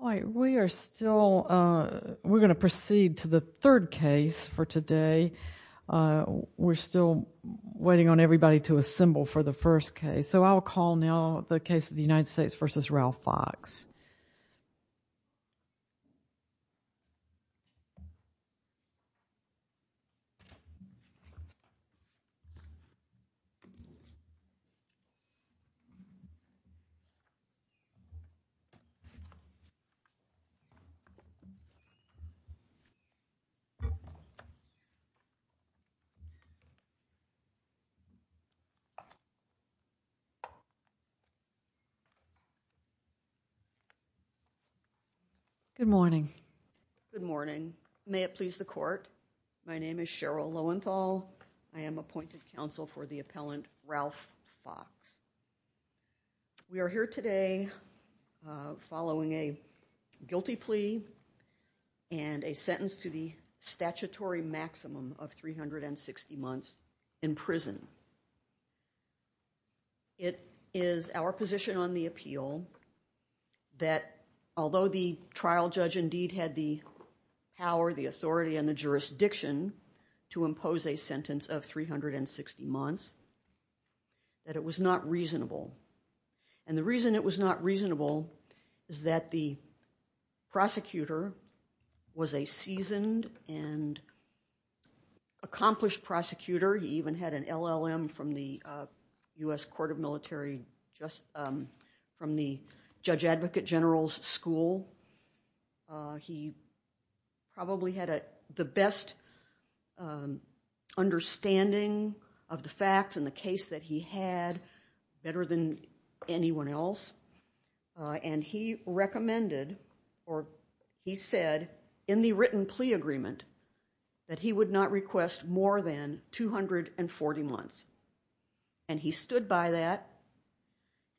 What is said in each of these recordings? All right, we are still, we're going to proceed to the third case for today. We're still waiting on everybody to assemble for the first case. So I'll call now the case of the United States v. Ralph Fox. Good morning. Good morning. May it please the court. My name is Cheryl Lowenthal. I am appointed counsel for the appellant, Ralph Fox. We are here today following a guilty plea and a sentence to the statutory maximum of 360 months in prison. It is our position on the appeal that although the trial judge indeed had the power, the authority, and the jurisdiction to impose a sentence of 360 months, that it was not reasonable. And the reason it was not reasonable is that the prosecutor was a seasoned and accomplished prosecutor. He even had an LLM from the U.S. Court of Military, from the Judge Advocate General's School. He probably had the best understanding of the facts in the case that he had, better than anyone else. And he recommended, or he said in the written plea agreement, that he would not request more than 240 months. And he stood by that,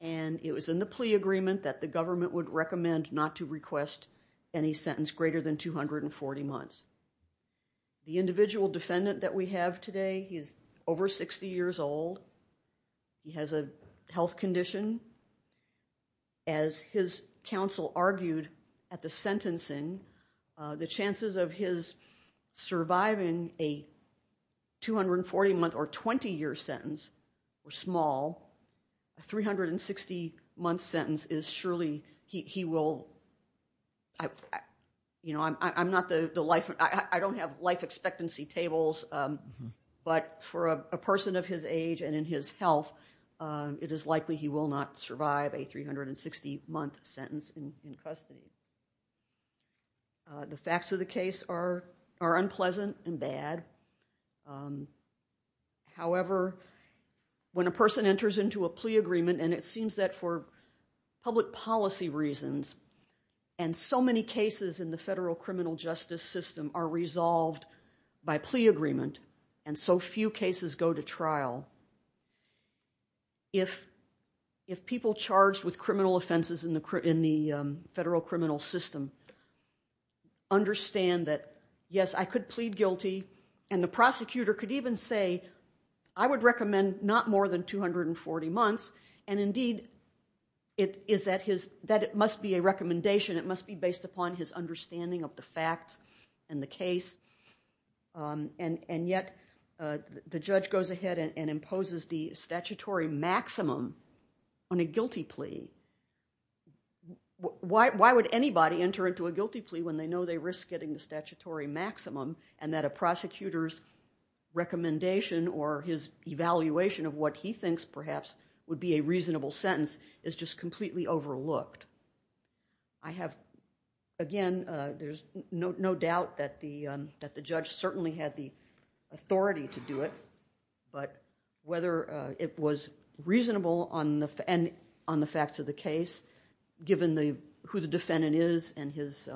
and it was in the plea agreement that the government would recommend not to request any sentence greater than 240 months. The individual defendant that we have today, he's over 60 years old. He has a health condition. As his counsel argued at the sentencing, the chances of his surviving a 240-month or 20-year sentence were small. A 360-month sentence is surely, he will, you know, I'm not the life, I don't have life expectancy tables. But for a person of his age and in his health, it is likely he will not survive a 360-month sentence in custody. The facts of the case are unpleasant and bad. However, when a person enters into a plea agreement, and it seems that for public policy reasons, and so many cases in the federal criminal justice system are resolved by plea agreement, and so few cases go to trial, if people charged with criminal offenses in the federal criminal system understand that, yes, I could plead guilty, and the prosecutor could even say, I would recommend not more than 240 months. And indeed, it is that it must be a recommendation. It must be based upon his understanding of the facts and the case. And yet the judge goes ahead and imposes the statutory maximum on a guilty plea. Why would anybody enter into a guilty plea when they know they risk getting the statutory maximum, and that a prosecutor's recommendation or his evaluation of what he thinks perhaps would be a reasonable sentence is just completely overlooked? I have, again, there's no doubt that the judge certainly had the authority to do it. But whether it was reasonable on the facts of the case, given who the defendant is and his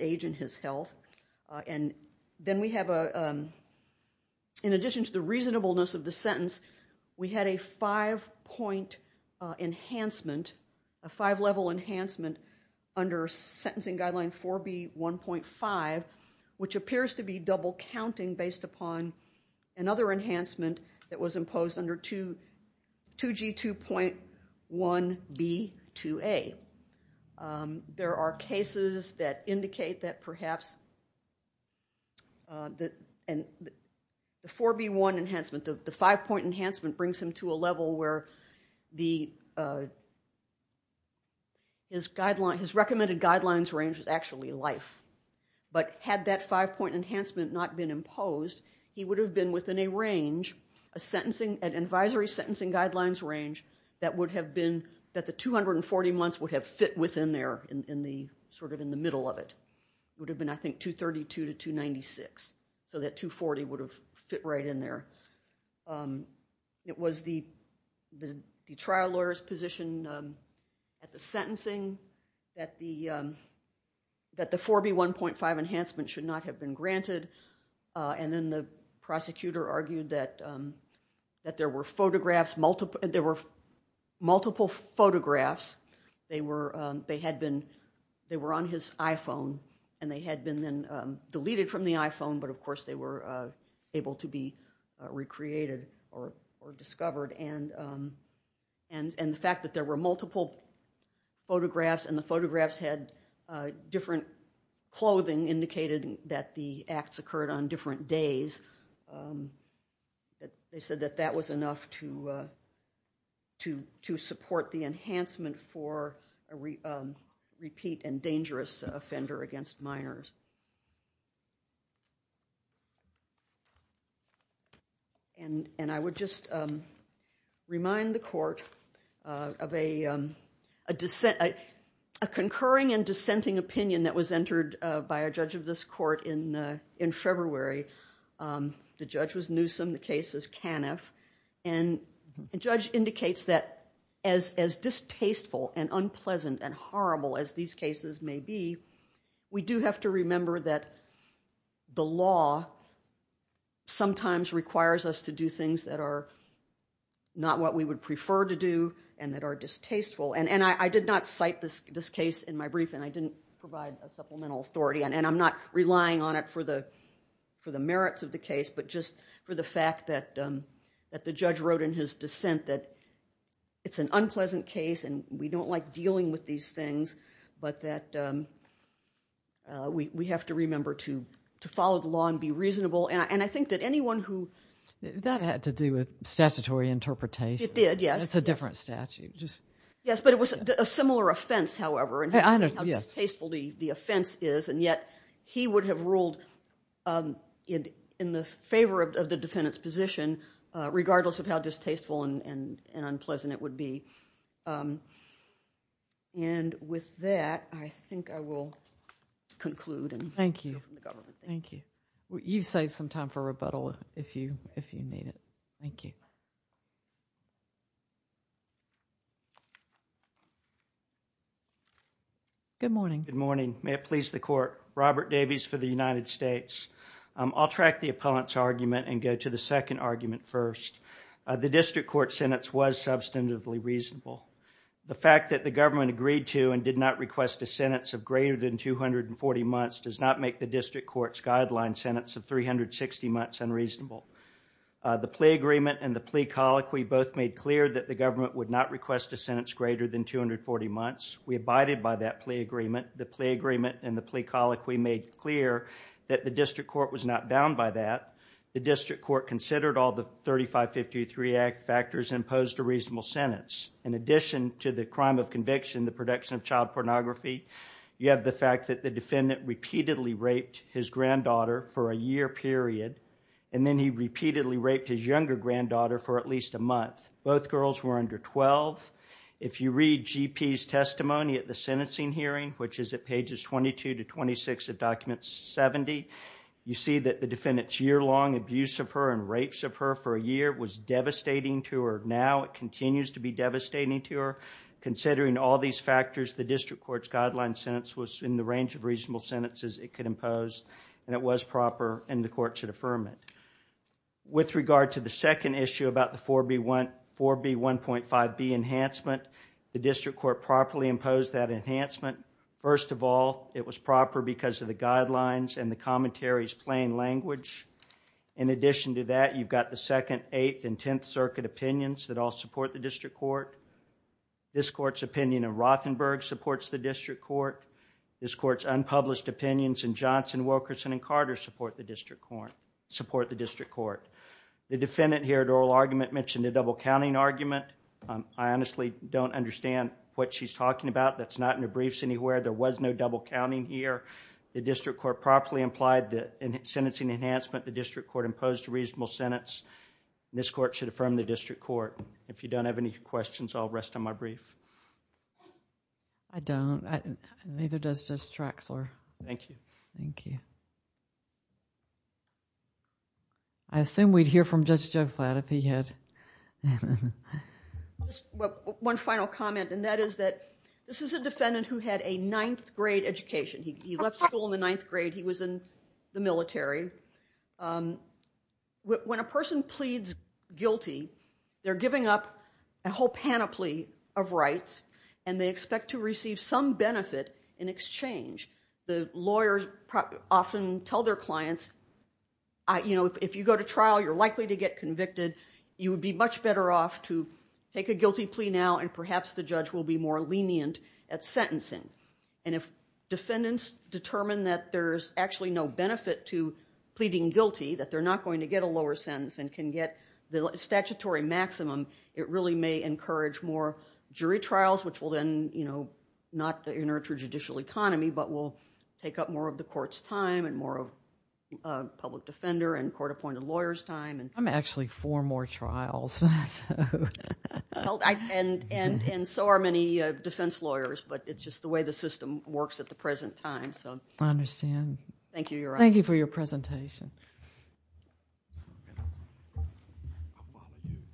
age and his health, and then we have, in addition to the reasonableness of the sentence, we had a five-point enhancement, a five-level enhancement under Sentencing Guideline 4B1.5, which appears to be double-counting based upon another enhancement that was imposed under 2G2.1B2A. There are cases that indicate that perhaps the 4B1 enhancement, the five-point enhancement, brings him to a level where his recommended guidelines range is actually life. But had that five-point enhancement not been imposed, he would have been within a range, an advisory sentencing guidelines range that the 240 months would have fit within there, sort of in the middle of it. It would have been, I think, 232 to 296, so that 240 would have fit right in there. It was the trial lawyer's position at the sentencing that the 4B1.5 enhancement should not have been granted, and then the prosecutor argued that there were photographs, multiple photographs. They were on his iPhone, and they had been then deleted from the iPhone, but, of course, they were able to be recreated or discovered. And the fact that there were multiple photographs and the photographs had different clothing indicated that the acts occurred on different days, they said that that was enough to support the enhancement for a repeat and dangerous offender against minors. And I would just remind the court of a concurring and dissenting opinion that was entered by a judge of this court in February The judge was Newsom, the case is Caniff. And the judge indicates that as distasteful and unpleasant and horrible as these cases may be, we do have to remember that the law sometimes requires us to do things that are not what we would prefer to do and that are distasteful, and I did not cite this case in my brief and I didn't provide a supplemental authority and I'm not relying on it for the merits of the case, but just for the fact that the judge wrote in his dissent that it's an unpleasant case and we don't like dealing with these things, but that we have to remember to follow the law and be reasonable. And I think that anyone who... That had to do with statutory interpretation. It did, yes. That's a different statute. Yes, but it was a similar offense, however, and how distasteful the offense is, and yet he would have ruled in the favor of the defendant's position, regardless of how distasteful and unpleasant it would be. And with that, I think I will conclude. Thank you. Thank you. You've saved some time for rebuttal if you need it. Thank you. Good morning. Good morning. May it please the Court. Robert Davies for the United States. I'll track the appellant's argument and go to the second argument first. The district court sentence was substantively reasonable. The fact that the government agreed to and did not request a sentence of greater than 240 months does not make the district court's guideline sentence of 360 months unreasonable. The plea agreement and the plea colloquy both made clear that the government would not request a sentence greater than 240 months. We abided by that plea agreement. The plea agreement and the plea colloquy made clear that the district court was not bound by that. The district court considered all the 3553 Act factors and imposed a reasonable sentence. In addition to the crime of conviction, the production of child pornography, you have the fact that the defendant repeatedly raped his granddaughter for a year period, and then he repeatedly raped his younger granddaughter for at least a month. Both girls were under 12. If you read GP's testimony at the sentencing hearing, which is at pages 22 to 26 of document 70, you see that the defendant's year-long abuse of her and rapes of her for a year was devastating to her. Now it continues to be devastating to her. Considering all these factors, the district court's guideline sentence was in the range of reasonable sentences it could impose, and it was proper, and the court should affirm it. With regard to the second issue about the 4B1.5B enhancement, the district court properly imposed that enhancement. First of all, it was proper because of the guidelines and the commentaries' plain language. In addition to that, you've got the Second, Eighth, and Tenth Circuit opinions that all support the district court. This court's opinion of Rothenberg supports the district court. This court's unpublished opinions in Johnson, Wilkerson, and Carter support the district court. The defendant here at oral argument mentioned a double-counting argument. I honestly don't understand what she's talking about. That's not in the briefs anywhere. There was no double-counting here. The district court properly implied that in sentencing enhancement, the district court imposed a reasonable sentence. This court should affirm the district court. If you don't have any questions, I'll rest on my brief. I don't. Neither does Judge Traxler. Thank you. Thank you. I assume we'd hear from Judge Joflat if he had. One final comment, and that is that this is a defendant who had a ninth-grade education. He was in the military. When a person pleads guilty, they're giving up a whole panoply of rights, and they expect to receive some benefit in exchange. The lawyers often tell their clients, if you go to trial, you're likely to get convicted. You would be much better off to take a guilty plea now, and perhaps the judge will be more lenient at sentencing. If defendants determine that there's actually no benefit to pleading guilty, that they're not going to get a lower sentence and can get the statutory maximum, it really may encourage more jury trials, which will then not inertia judicial economy, but will take up more of the court's time and more of public defender and court-appointed lawyer's time. I'm actually for more trials. And so are many defense lawyers, but it's just the way the system works at the present time. I understand. Thank you, Your Honor. Thank you for your presentation.